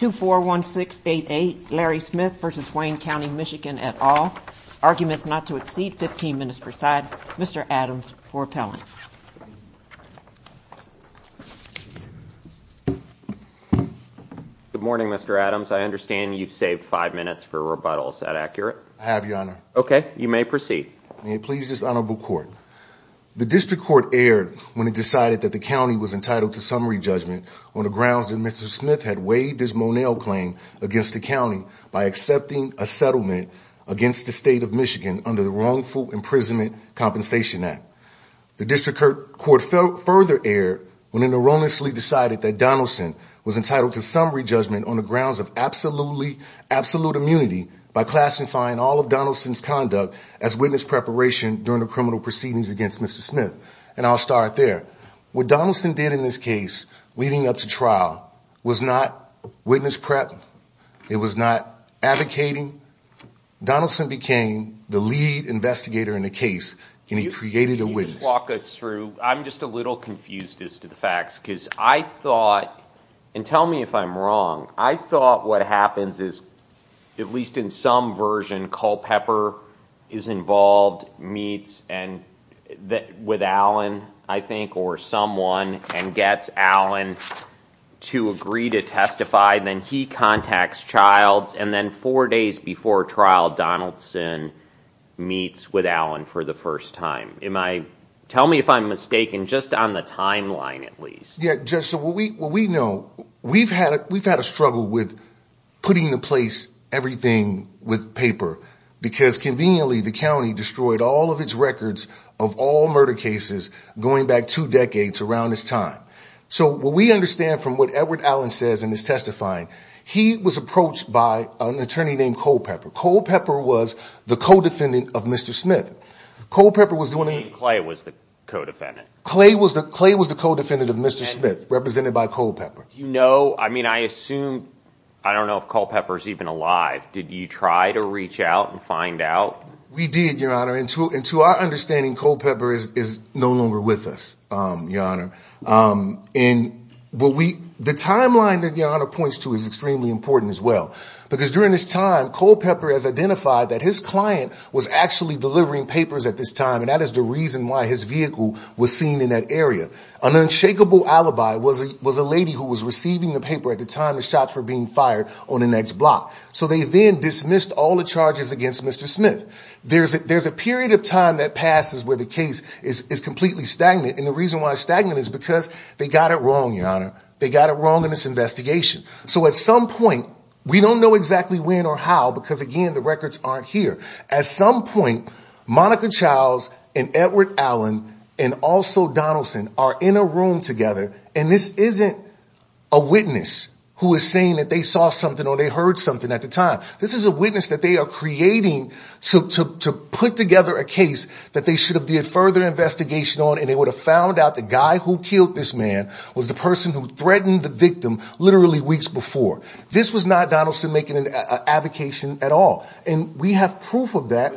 241688 Larry Smith v. Wayne County MI et al. Arguments not to exceed 15 minutes per side. Mr. Adams for appellant. Good morning Mr. Adams. I understand you've saved five minutes for rebuttal. Is that accurate? I have your honor. Okay, you may proceed. May it please this honorable court. The district court erred when it decided that the county was entitled to summary judgment on the grounds that Mr. Smith had waived his Monell claim against the county by accepting a settlement against the state of Michigan under the Wrongful Imprisonment Compensation Act. The district court further erred when it erroneously decided that Donaldson was entitled to summary judgment on the grounds of absolute immunity by classifying all of Donaldson's conduct as witness preparation during the criminal proceedings against Mr. Smith. And I'll start there. What Donaldson did in this case leading up to trial was not witness prep. It was not advocating. Donaldson became the lead investigator in the case and he created a witness. I'm just a little confused as to the facts because I thought, and tell me if I'm wrong, I thought what happens is at least in some version Culpepper is involved, meets with Allen I think or someone and gets Allen to agree to testify. Then he contacts Childs and then four days before trial Donaldson meets with Allen for the first time. Tell me if I'm mistaken just on the timeline at least. We've had a struggle with putting in place everything with paper because conveniently the county destroyed all of its records of all murder cases going back two decades around this time. So what we understand from what Edward Allen says in his testifying, he was approached by an attorney named Culpepper. Culpepper was the co-defendant of Mr. Smith. You mean Clay was the co-defendant? Clay was the co-defendant of Mr. Smith represented by Culpepper. Do you know, I mean I assume, I don't know if Culpepper is even alive. Did you try to reach out and find out? We did, your honor, and to our understanding Culpepper is no longer with us, your honor. The timeline that your honor points to is extremely important as well because during this time Culpepper has identified that his client was actually delivering papers at this time and that is the reason why his vehicle was seen in that area. An unshakable alibi was a lady who was receiving the paper at the time the shots were being fired on the next block. So they then dismissed all the charges against Mr. Smith. There's a period of time that passes where the case is completely stagnant and the reason why it's stagnant is because they got it wrong, your honor. They got it wrong in this investigation. So at some point we don't know exactly when or how because again the records aren't here. At some point Monica Childs and Edward Allen and also Donaldson are in a room together and this isn't a witness who is saying that they saw something or they heard something at the time. This is a witness that they are creating to put together a case that they should have did further investigation on and they would have found out the guy who killed this man was the person who threatened the victim literally weeks before. This was not Donaldson making an avocation at all and we have proof of that.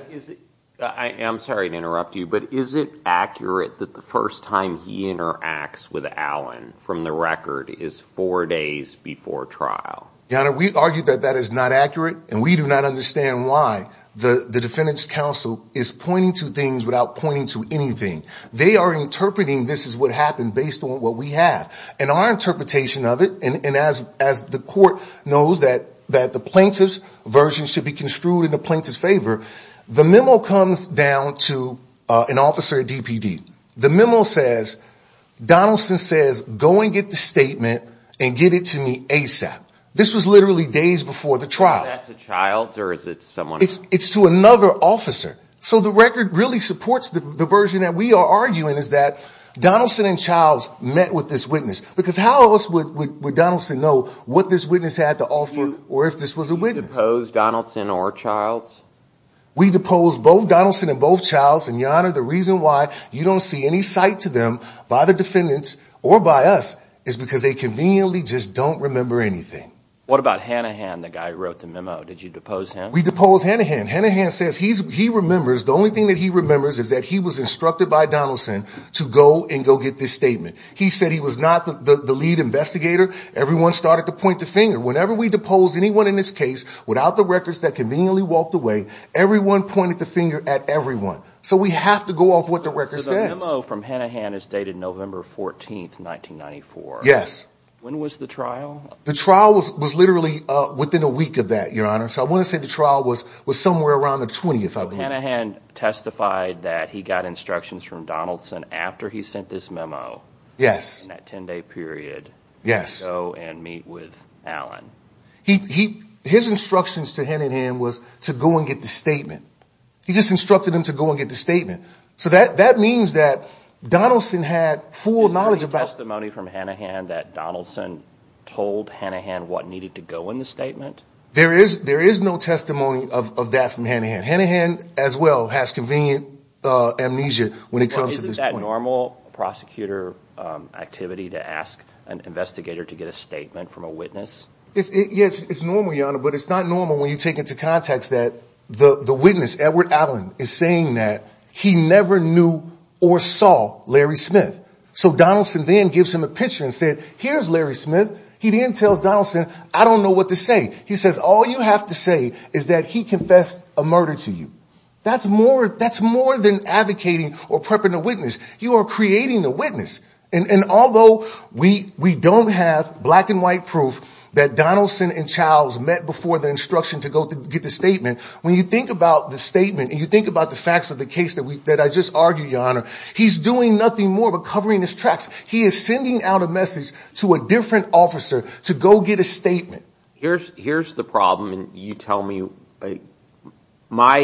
I am sorry to interrupt you but is it accurate that the first time he interacts with Allen from the record is four days before trial? Your honor we argue that that is not accurate and we do not understand why the defendant's counsel is pointing to things without pointing to anything. They are interpreting this is what happened based on what we have. In our interpretation of it and as the court knows that the plaintiff's version should be construed in the plaintiff's favor, the memo comes down to an officer at DPD. The memo says Donaldson says go and get the statement and get it to me ASAP. This was literally days before the trial. Is that to Childs or is it someone else? It's to another officer. So the record really supports the version that we are arguing is that Donaldson and Childs met with this witness because how else would Donaldson know what this witness had to offer or if this was a witness. Did you depose Donaldson or Childs? We deposed both Donaldson and both Childs and your honor the reason why you don't see any sight to them by the defendants or by us is because they conveniently just don't remember anything. What about Hanahan the guy who wrote the memo? Did you depose him? We deposed Hanahan. Hanahan says he remembers the only thing that he remembers is that he was instructed by Donaldson to go and go get this statement. He said he was not the lead investigator. Everyone started to point the finger. Whenever we deposed anyone in this case without the records that conveniently walked away everyone pointed the finger at everyone. So we have to go off what the record says. The memo from Hanahan is dated November 14, 1994. Yes. When was the trial? The trial was literally within a week of that your honor. So I want to say the trial was somewhere around the 20th. Hanahan testified that he got instructions from Donaldson after he sent this memo. Yes. In that 10 day period. Yes. To go and meet with Allen. His instructions to Hanahan was to go and get the statement. He just instructed him to go and get the statement. So that means that Donaldson had full knowledge about. Is there any testimony from Hanahan that Donaldson told Hanahan what needed to go in the statement? There is no testimony of that from Hanahan. Hanahan as well has convenient amnesia when it comes to this point. Is it that normal prosecutor activity to ask an investigator to get a statement from a witness? Yes, it's normal your honor. But it's not normal when you take into context that the witness, Edward Allen, is saying that he never knew or saw Larry Smith. So Donaldson then gives him a picture and said here's Larry Smith. He then tells Donaldson I don't know what to say. He says all you have to say is that he confessed a murder to you. That's more than advocating or prepping a witness. You are creating a witness. And although we don't have black and white proof that Donaldson and Childs met before the instruction to go get the statement, when you think about the statement and you think about the facts of the case that I just argued your honor, he's doing nothing more but covering his tracks. He is sending out a message to a different officer to go get a statement. Here's the problem. You tell me, and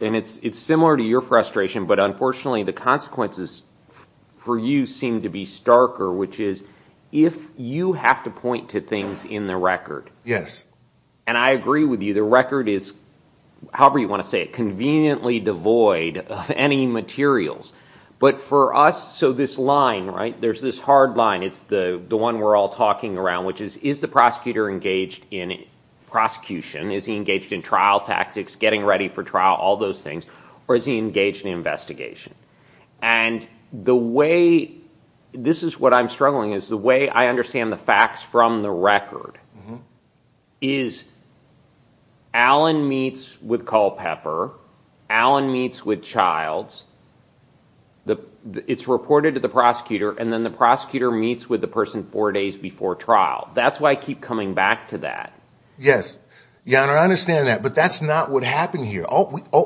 it's similar to your frustration, but unfortunately the consequences for you seem to be starker, which is if you have to point to things in the record, and I agree with you, the record is, however you want to say it, conveniently devoid of any materials. But for us, so this line, there's this hard line, it's the one we're all talking around, which is, is the prosecutor engaged in prosecution? Is he engaged in trial tactics, getting ready for trial, all those things? Or is he engaged in investigation? And the way, this is what I'm struggling with, is the way I understand the facts from the record, is Allen meets with Culpepper, Allen meets with Childs, it's reported to the prosecutor, and then the prosecutor meets with the person four days before trial. That's why I keep coming back to that. Yes, your honor, I understand that. But that's not what happened here.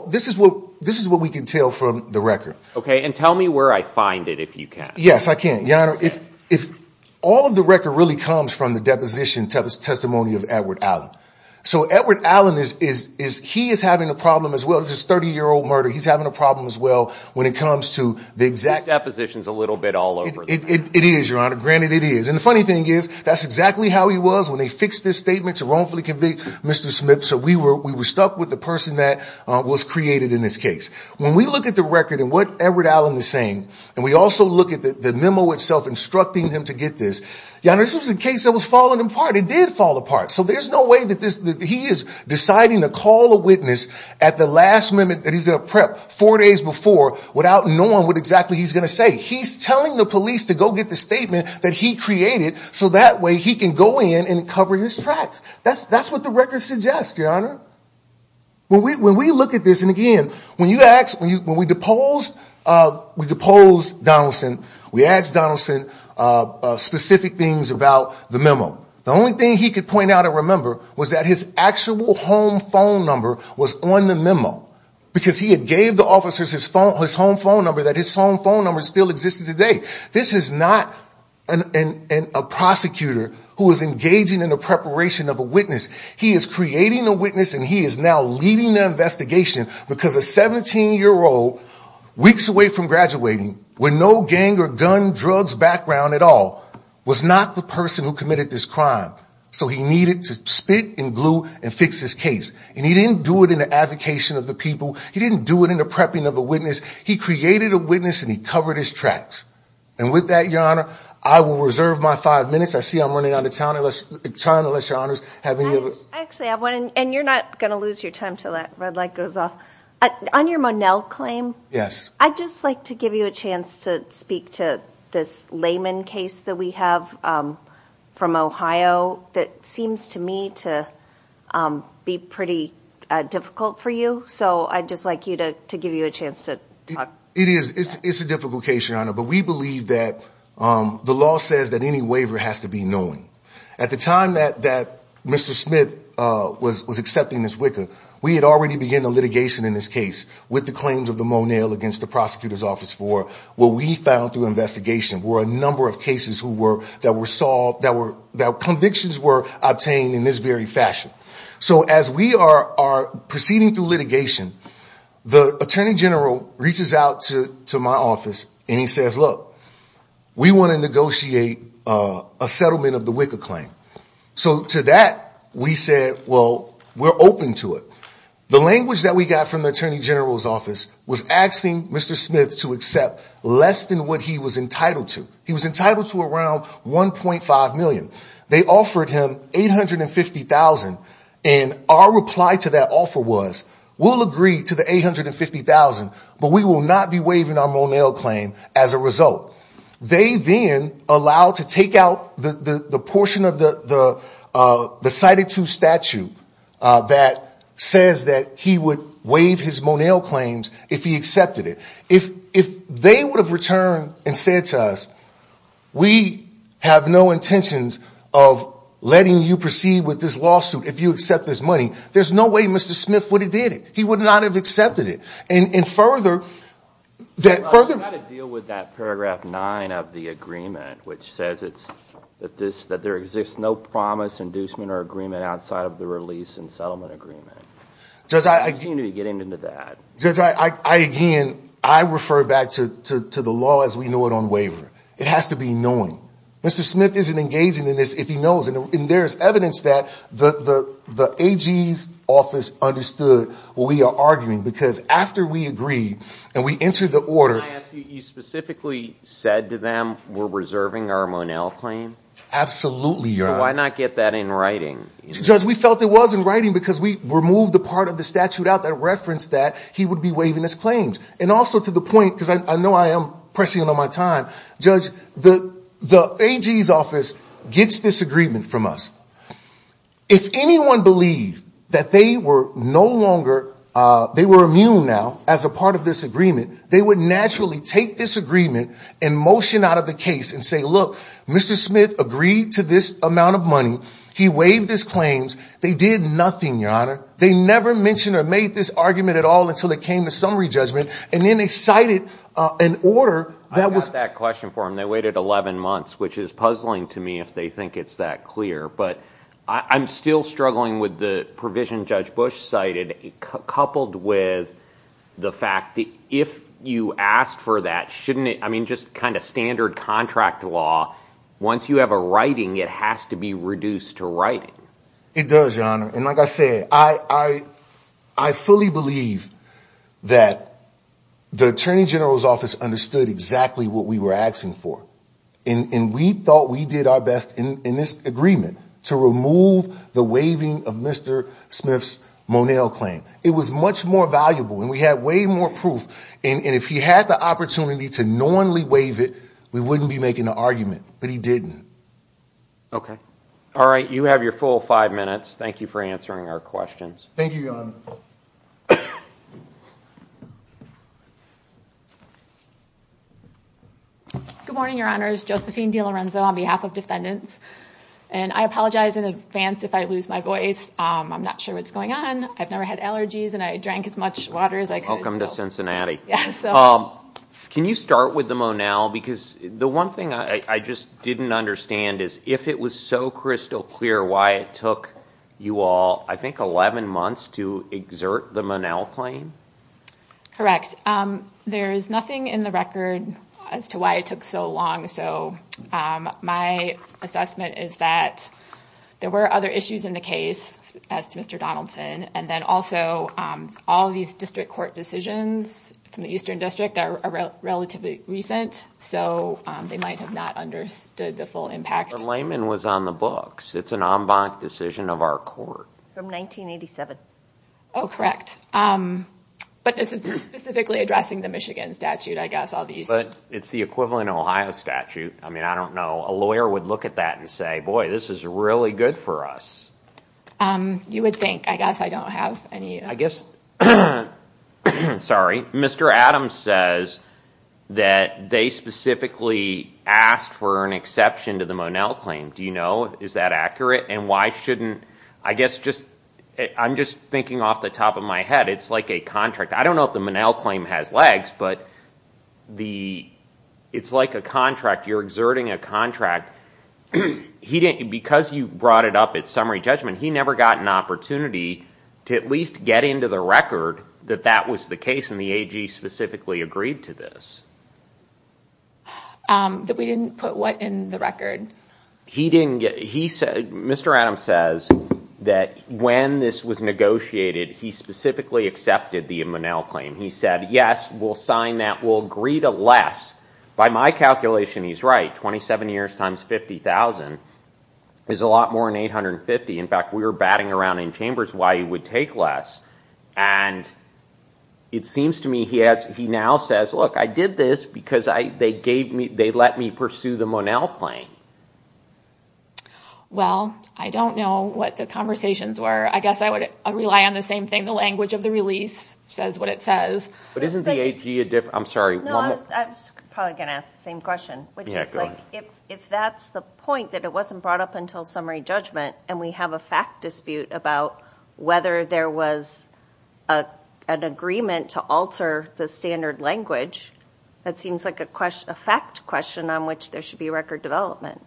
This is what we can tell from the record. Okay, and tell me where I find it if you can. Yes, I can. Your honor, all of the record really comes from the deposition testimony of Edward Allen. So Edward Allen, he is having a problem as well. This is a 30-year-old murder. He's having a problem as well when it comes to the exact... It is, your honor, granted it is. And the funny thing is, that's exactly how he was when they fixed this statement to wrongfully convict Mr. Smith. So we were stuck with the person that was created in this case. When we look at the record and what Edward Allen is saying, and we also look at the memo itself instructing him to get this, your honor, this was a case that was falling apart. It did fall apart. So there's no way that he is deciding to call a witness at the last minute that he's going to prep, four days before, without knowing what exactly he's going to say. He's telling the police to go get the statement that he created so that way he can go in and cover his tracks. That's what the record suggests, your honor. When we look at this, and again, when we deposed Donaldson, we asked Donaldson specific things about the memo. The only thing he could point out or remember was that his actual home phone number was on the memo. Because he had gave the officers his home phone number, that his home phone number still existed today. This is not a prosecutor who is engaging in the preparation of a witness. He is creating a witness and he is now leading the investigation because a 17-year-old, weeks away from graduating, with no gang or gun, drugs background at all, was not the person who committed this crime. So he needed to spit and glue and fix this case. And he didn't do it in the advocation of the people. He didn't do it in the prepping of a witness. He created a witness and he covered his tracks. And with that, your honor, I will reserve my five minutes. I see I'm running out of time, unless your honors have any other... I actually have one, and you're not going to lose your time until that red light goes off. On your Monell claim, I'd just like to give you a chance to speak to this Layman case that we have from Ohio that seems to me to be pretty difficult for you. So I'd just like to give you a chance to talk. It is. It's a difficult case, your honor. But we believe that the law says that any waiver has to be knowing. At the time that Mr. Smith was accepting this WICA, we had already begun a litigation in this case with the claims of the Monell against the prosecutor's office for what we found through investigation were a number of cases that convictions were obtained in this very fashion. So as we are proceeding through litigation, the attorney general reaches out to my office and he says, look, we want to negotiate a settlement of the WICA claim. So to that, we said, well, we're open to it. The language that we got from the attorney general's office was asking Mr. Smith to accept less than what he was entitled to. He was entitled to around one point five million. They offered him eight hundred and fifty thousand. And our reply to that offer was we'll agree to the eight hundred and fifty thousand. But we will not be waiving our Monell claim as a result. They then allowed to take out the portion of the cited to statute that says that he would waive his Monell claims if he accepted it. If if they would have returned and said to us, we have no intentions of letting you proceed with this lawsuit. If you accept this money, there's no way Mr. Smith would have did it. He would not have accepted it. And further. That further to deal with that paragraph nine of the agreement, which says it's that this that there exists no promise, inducement or agreement outside of the release and settlement agreement. Does I seem to be getting into that? I again, I refer back to the law as we know it on waiver. It has to be knowing Mr. Smith isn't engaging in this if he knows. And there's evidence that the AG's office understood what we are arguing, because after we agree and we enter the order, you specifically said to them, we're reserving our Monell claim. Absolutely. Why not get that in writing? Judge, we felt it was in writing because we removed the part of the statute out that referenced that he would be waiving his claims. And also to the point, because I know I am pressing on my time, judge, the AG's office gets this agreement from us. If anyone believed that they were no longer they were immune now as a part of this agreement, they would naturally take this agreement and motion out of the case and say, look, Mr. Smith agreed to this amount of money. He waived his claims. They did nothing. Your honor. They never mentioned or made this argument at all until it came to summary judgment. And then they cited an order that was that question for him. They waited 11 months, which is puzzling to me if they think it's that clear. But I'm still struggling with the provision. Judge Bush cited coupled with the fact that if you asked for that, shouldn't it? I mean, just kind of standard contract law. Once you have a writing, it has to be reduced to writing. It does, your honor. And like I said, I, I, I fully believe that the attorney general's office understood exactly what we were asking for. And we thought we did our best in this agreement to remove the waiving of Mr. Smith's Monell claim. It was much more valuable and we had way more proof. And if he had the opportunity to normally waive it, we wouldn't be making an argument. But he didn't. Okay. All right. You have your full five minutes. Thank you for answering our questions. Thank you, your honor. Good morning, your honors. Josephine DiLorenzo on behalf of defendants. And I apologize in advance if I lose my voice. I'm not sure what's going on. I've never had allergies and I drank as much water as I could. Welcome to Cincinnati. Can you start with the Monell? Because the one thing I just didn't understand is if it was so crystal clear why it took you all, I think, 11 months to exert the Monell claim. Correct. There is nothing in the record as to why it took so long. So my assessment is that there were other issues in the case as to Mr. Donaldson. And then also all of these district court decisions from the Eastern District are relatively recent. So they might have not understood the full impact. The layman was on the books. It's an en banc decision of our court from 1987. Oh, correct. But this is specifically addressing the Michigan statute, I guess. But it's the equivalent Ohio statute. I mean, I don't know. A lawyer would look at that and say, boy, this is really good for us. You would think. I guess I don't have any. I guess. Sorry. Mr. Adams says that they specifically asked for an exception to the Monell claim. Do you know? Is that accurate? And why shouldn't I guess just I'm just thinking off the top of my head. It's like a contract. I don't know if the Monell claim has legs, but the it's like a contract. You're exerting a contract. He didn't because you brought it up at summary judgment. He never got an opportunity to at least get into the record that that was the case. And the AG specifically agreed to this. That we didn't put what in the record. He didn't get he said Mr. Adams says that when this was negotiated, he specifically accepted the Monell claim. He said, yes, we'll sign that. We'll agree to less by my calculation. He's right. Twenty seven years times. Fifty thousand is a lot more than eight hundred and fifty. In fact, we were batting around in chambers why you would take less. And it seems to me he now says, look, I did this because they gave me they let me pursue the Monell claim. Well, I don't know what the conversations were. I guess I would rely on the same thing. The language of the release says what it says. But isn't the AG a different. I'm sorry. I was probably going to ask the same question, which is if that's the point, that it wasn't brought up until summary judgment. And we have a fact dispute about whether there was an agreement to alter the standard language. That seems like a question, a fact question on which there should be record development.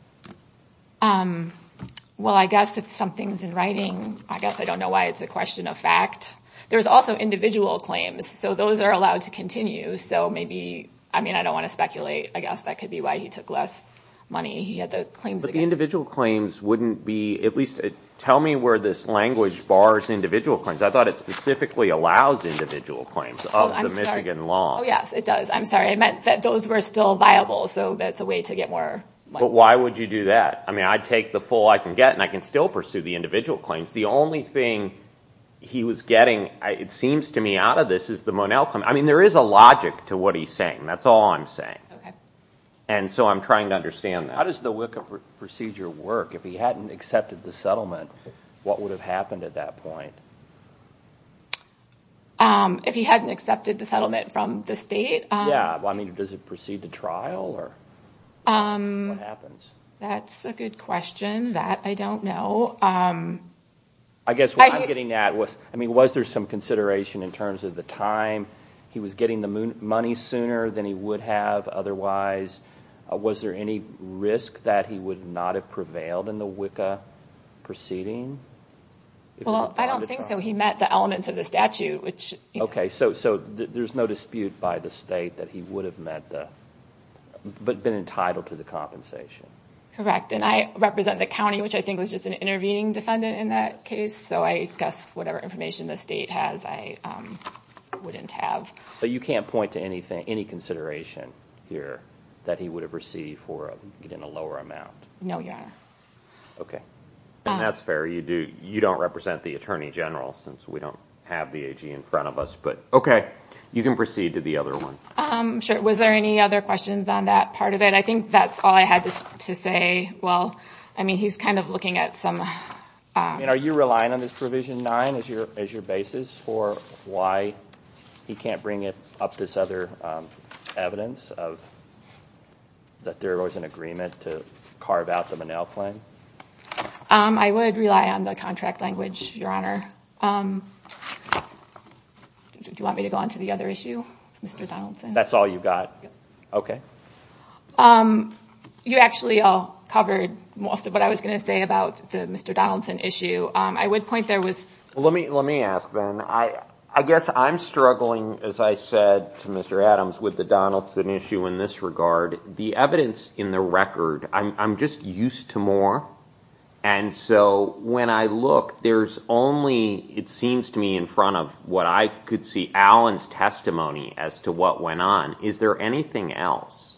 Well, I guess if something's in writing, I guess I don't know why it's a question of fact. There's also individual claims. So those are allowed to continue. So maybe. I mean, I don't want to speculate. I guess that could be why he took less money. But the individual claims wouldn't be at least tell me where this language bars individual claims. I thought it specifically allows individual claims of the Michigan law. Yes, it does. I'm sorry. I meant that those were still viable. So that's a way to get more. But why would you do that? I mean, I take the full I can get and I can still pursue the individual claims. The only thing he was getting, it seems to me, out of this is the Monell claim. I mean, there is a logic to what he's saying. That's all I'm saying. And so I'm trying to understand that. How does the WICA procedure work? If he hadn't accepted the settlement, what would have happened at that point? If he hadn't accepted the settlement from the state? Yeah. I mean, does it proceed to trial or what happens? That's a good question that I don't know. I guess what I'm getting at was, I mean, was there some consideration in terms of the time he was getting the money sooner than he would have otherwise? Was there any risk that he would not have prevailed in the WICA proceeding? Well, I don't think so. He met the elements of the statute. Okay. So there's no dispute by the state that he would have met the, but been entitled to the compensation. Correct. And I represent the county, which I think was just an intervening defendant in that case. So I guess whatever information the state has, I wouldn't have. But you can't point to anything, any consideration here that he would have received for getting a lower amount? No, Your Honor. Okay. And that's fair. You don't represent the Attorney General since we don't have the AG in front of us. But okay. You can proceed to the other one. Sure. Was there any other questions on that part of it? I think that's all I had to say. Well, I mean, he's kind of looking at some... Are you relying on this Provision 9 as your basis for why he can't bring up this other evidence of that there was an agreement to carve out the Monell claim? I would rely on the contract language, Your Honor. Do you want me to go on to the other issue, Mr. Donaldson? That's all you've got? Okay. You actually all covered most of what I was going to say about the Mr. Donaldson issue. I would point there was... Let me ask, then. I guess I'm struggling, as I said to Mr. Adams, with the Donaldson issue in this regard. The evidence in the record, I'm just used to more. And so when I look, there's only, it seems to me, in front of what I could see Allen's testimony as to what went on. Is there anything else?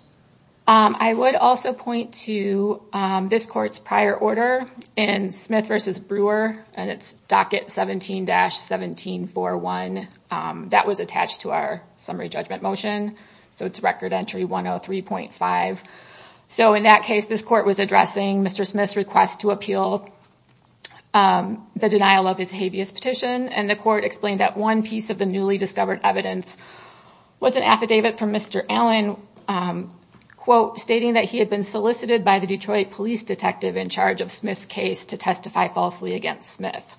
I would also point to this court's prior order in Smith v. Brewer. And it's docket 17-1741. That was attached to our summary judgment motion. So it's record entry 103.5. So in that case, this court was addressing Mr. Smith's request to appeal the denial of his habeas petition. And the court explained that one piece of the newly discovered evidence was an affidavit from Mr. Allen, quote, stating that he had been solicited by the Detroit police detective in charge of Smith's case to testify falsely against Smith.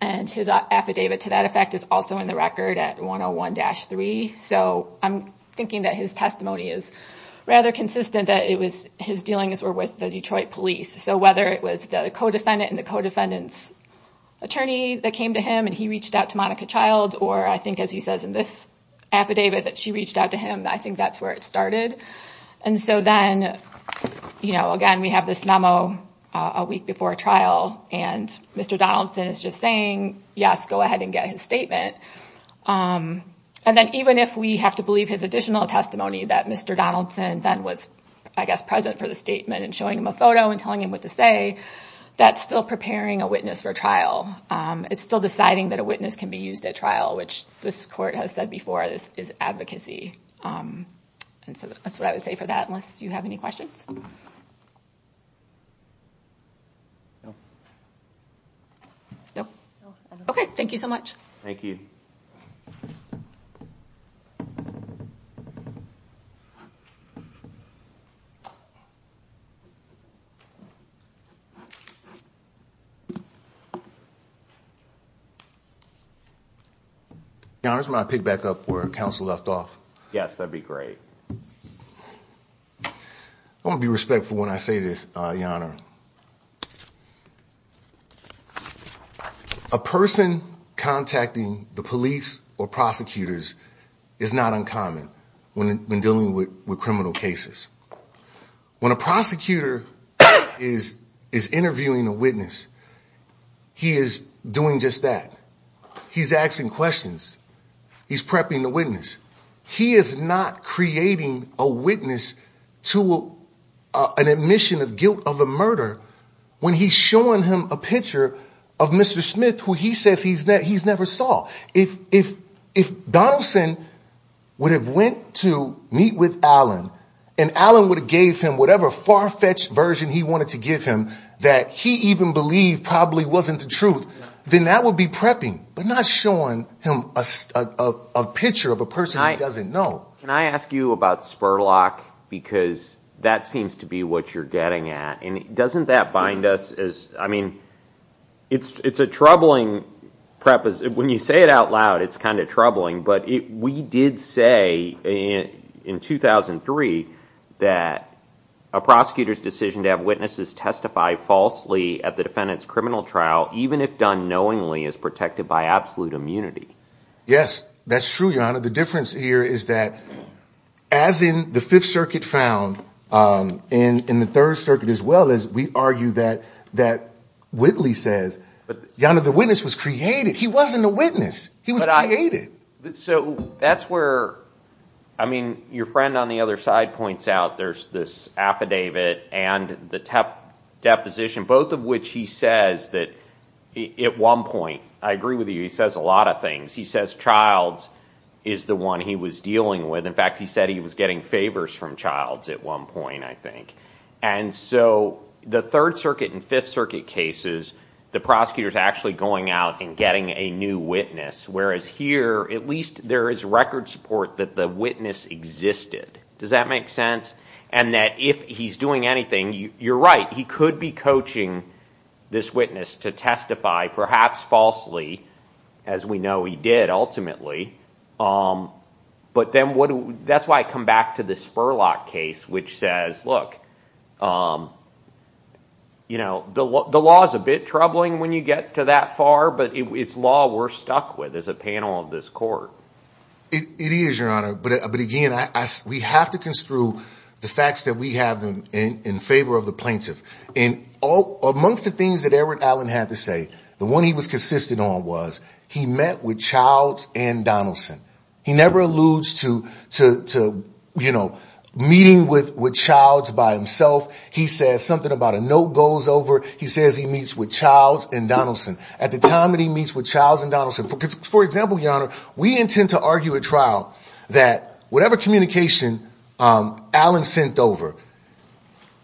And his affidavit to that effect is also in the record at 101-3. So I'm thinking that his testimony is rather consistent that his dealings were with the Detroit police. So whether it was the co-defendant and the co-defendant's attorney that came to him and he reached out to Monica Child, or I think, as he says in this affidavit, that she reached out to him, I think that's where it started. And so then, you know, again, we have this memo a week before a trial. And Mr. Donaldson is just saying, yes, go ahead and get his statement. And then even if we have to believe his additional testimony that Mr. Donaldson then was, I guess, present for the statement and showing him a photo and telling him what to say, that's still preparing a witness for trial. It's still deciding that a witness can be used at trial, which this court has said before, this is advocacy. And so that's what I would say for that. Unless you have any questions. No. OK, thank you so much. Thank you. Now, there's my pick back up where counsel left off. Yes, that'd be great. I want to be respectful when I say this, your honor. A person contacting the police or prosecutors is not uncommon when dealing with criminal cases. When a prosecutor is is interviewing a witness, he is doing just that. He's asking questions. He's prepping the witness. He is not creating a witness to an admission of guilt of a murder. When he's showing him a picture of Mr. Smith, who he says he's that he's never saw. If if if Donaldson would have went to meet with Alan and Alan would have gave him whatever far fetched version he wanted to give him that he even believed probably wasn't the truth, then that would be prepping, but not showing him a picture of a person I doesn't know. Can I ask you about Spurlock? Because that seems to be what you're getting at. And doesn't that bind us as I mean, it's it's a troubling prep is when you say it out loud, it's kind of troubling. But we did say in 2003 that a prosecutor's decision to have witnesses testify falsely at the defendant's criminal trial, even if done knowingly, is protected by absolute immunity. Yes, that's true. The difference here is that as in the Fifth Circuit found in the Third Circuit as well, as we argue that that Whitley says, but the witness was created. He wasn't a witness. He was created. So that's where I mean, your friend on the other side points out. There's this affidavit and the TEP deposition, both of which he says that at one point, I agree with you. He says a lot of things. He says Childs is the one he was dealing with. In fact, he said he was getting favors from Childs at one point, I think. And so the Third Circuit and Fifth Circuit cases, the prosecutors actually going out and getting a new witness, whereas here, at least there is record support that the witness existed. Does that make sense? And that if he's doing anything, you're right. He could be coaching this witness to testify, perhaps falsely, as we know he did ultimately. But then that's why I come back to the Spurlock case, which says, look, you know, the law is a bit troubling when you get to that far. But it's law we're stuck with as a panel of this court. It is, Your Honor. But again, we have to construe the facts that we have in favor of the plaintiff. And all amongst the things that Edward Allen had to say, the one he was consistent on was he met with Childs and Donaldson. He never alludes to, you know, meeting with with Childs by himself. He says something about a note goes over. He says he meets with Childs and Donaldson at the time that he meets with Childs and Donaldson. For example, Your Honor, we intend to argue at trial that whatever communication Allen sent over,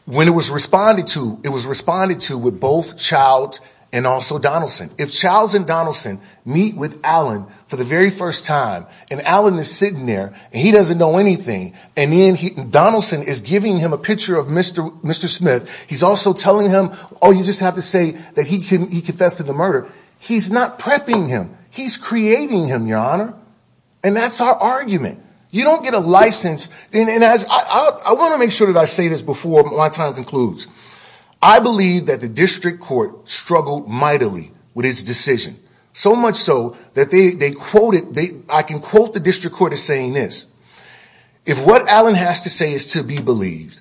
when it was responded to, it was responded to with both Childs and also Donaldson. If Childs and Donaldson meet with Allen for the very first time and Allen is sitting there and he doesn't know anything and then Donaldson is giving him a picture of Mr. Mr. Smith, he's also telling him, oh, you just have to say that he confessed to the murder. He's not prepping him. He's creating him, Your Honor. And that's our argument. You don't get a license. And as I want to make sure that I say this before my time concludes, I believe that the district court struggled mightily with his decision. So much so that they quoted the I can quote the district court is saying this. If what Allen has to say is to be believed,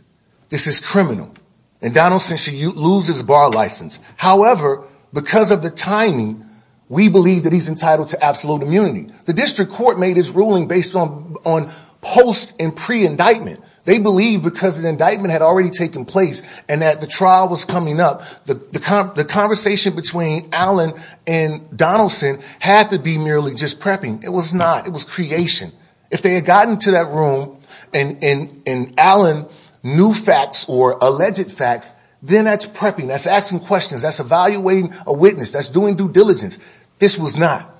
this is criminal. And Donaldson, she loses bar license. However, because of the timing, we believe that he's entitled to absolute immunity. The district court made his ruling based on on post and pre indictment. They believe because the indictment had already taken place and that the trial was coming up. The conversation between Allen and Donaldson had to be merely just prepping. It was not. It was creation. If they had gotten to that room and Allen knew facts or alleged facts, then that's prepping. That's asking questions. That's evaluating a witness. That's doing due diligence. This was not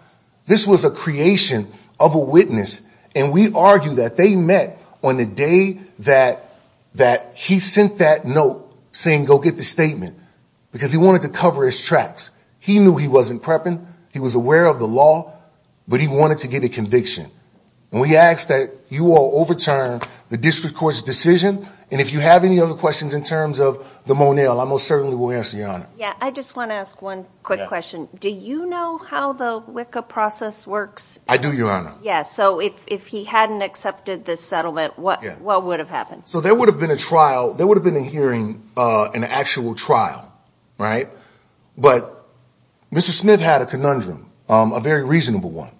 this was a creation of a witness. And we argue that they met on the day that that he sent that note saying go get the statement because he wanted to cover his tracks. He knew he wasn't prepping. He was aware of the law, but he wanted to get a conviction. And we ask that you all overturn the district court's decision. And if you have any other questions in terms of the Monell, I most certainly will answer your honor. Yeah. I just want to ask one quick question. Do you know how the Wicca process works? I do, Your Honor. Yes. So if he hadn't accepted this settlement, what what would have happened? So there would have been a trial. There would have been a hearing, an actual trial. Right. But Mr. Smith had a conundrum, a very reasonable one.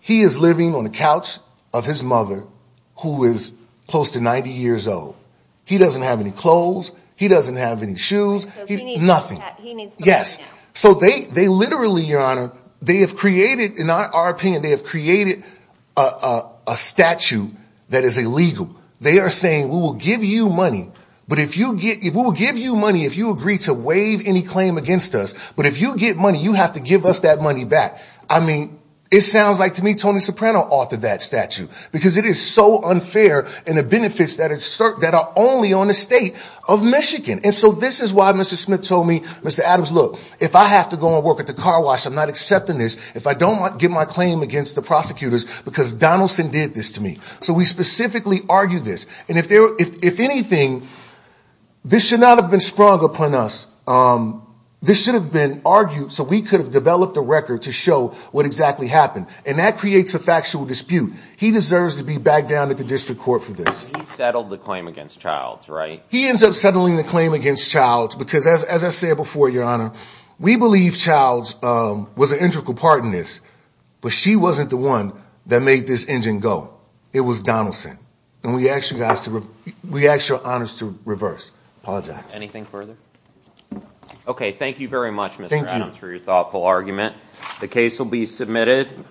He is living on the couch of his mother, who is close to 90 years old. He doesn't have any clothes. He doesn't have any shoes. Nothing. Yes. So they they literally, Your Honor, they have created in our opinion, they have created a statute that is illegal. They are saying we will give you money. But if you get it, we'll give you money if you agree to waive any claim against us. But if you get money, you have to give us that money back. I mean, it sounds like to me, Tony Soprano authored that statute because it is so unfair. And the benefits that are only on the state of Michigan. And so this is why Mr. Smith told me, Mr. Adams, look, if I have to go and work at the car wash, I'm not accepting this. If I don't get my claim against the prosecutors because Donaldson did this to me. So we specifically argue this. And if there if anything, this should not have been sprung upon us. This should have been argued. So we could have developed a record to show what exactly happened. And that creates a factual dispute. He deserves to be back down at the district court for this. He settled the claim against Childs, right? He ends up settling the claim against Childs because, as I said before, Your Honor, we believe Childs was an integral part in this, but she wasn't the one that made this engine go. It was Donaldson. And we actually got to. We actually are honest to reverse. Anything further? OK, thank you very much. Thank you for your thoughtful argument. The case will be submitted.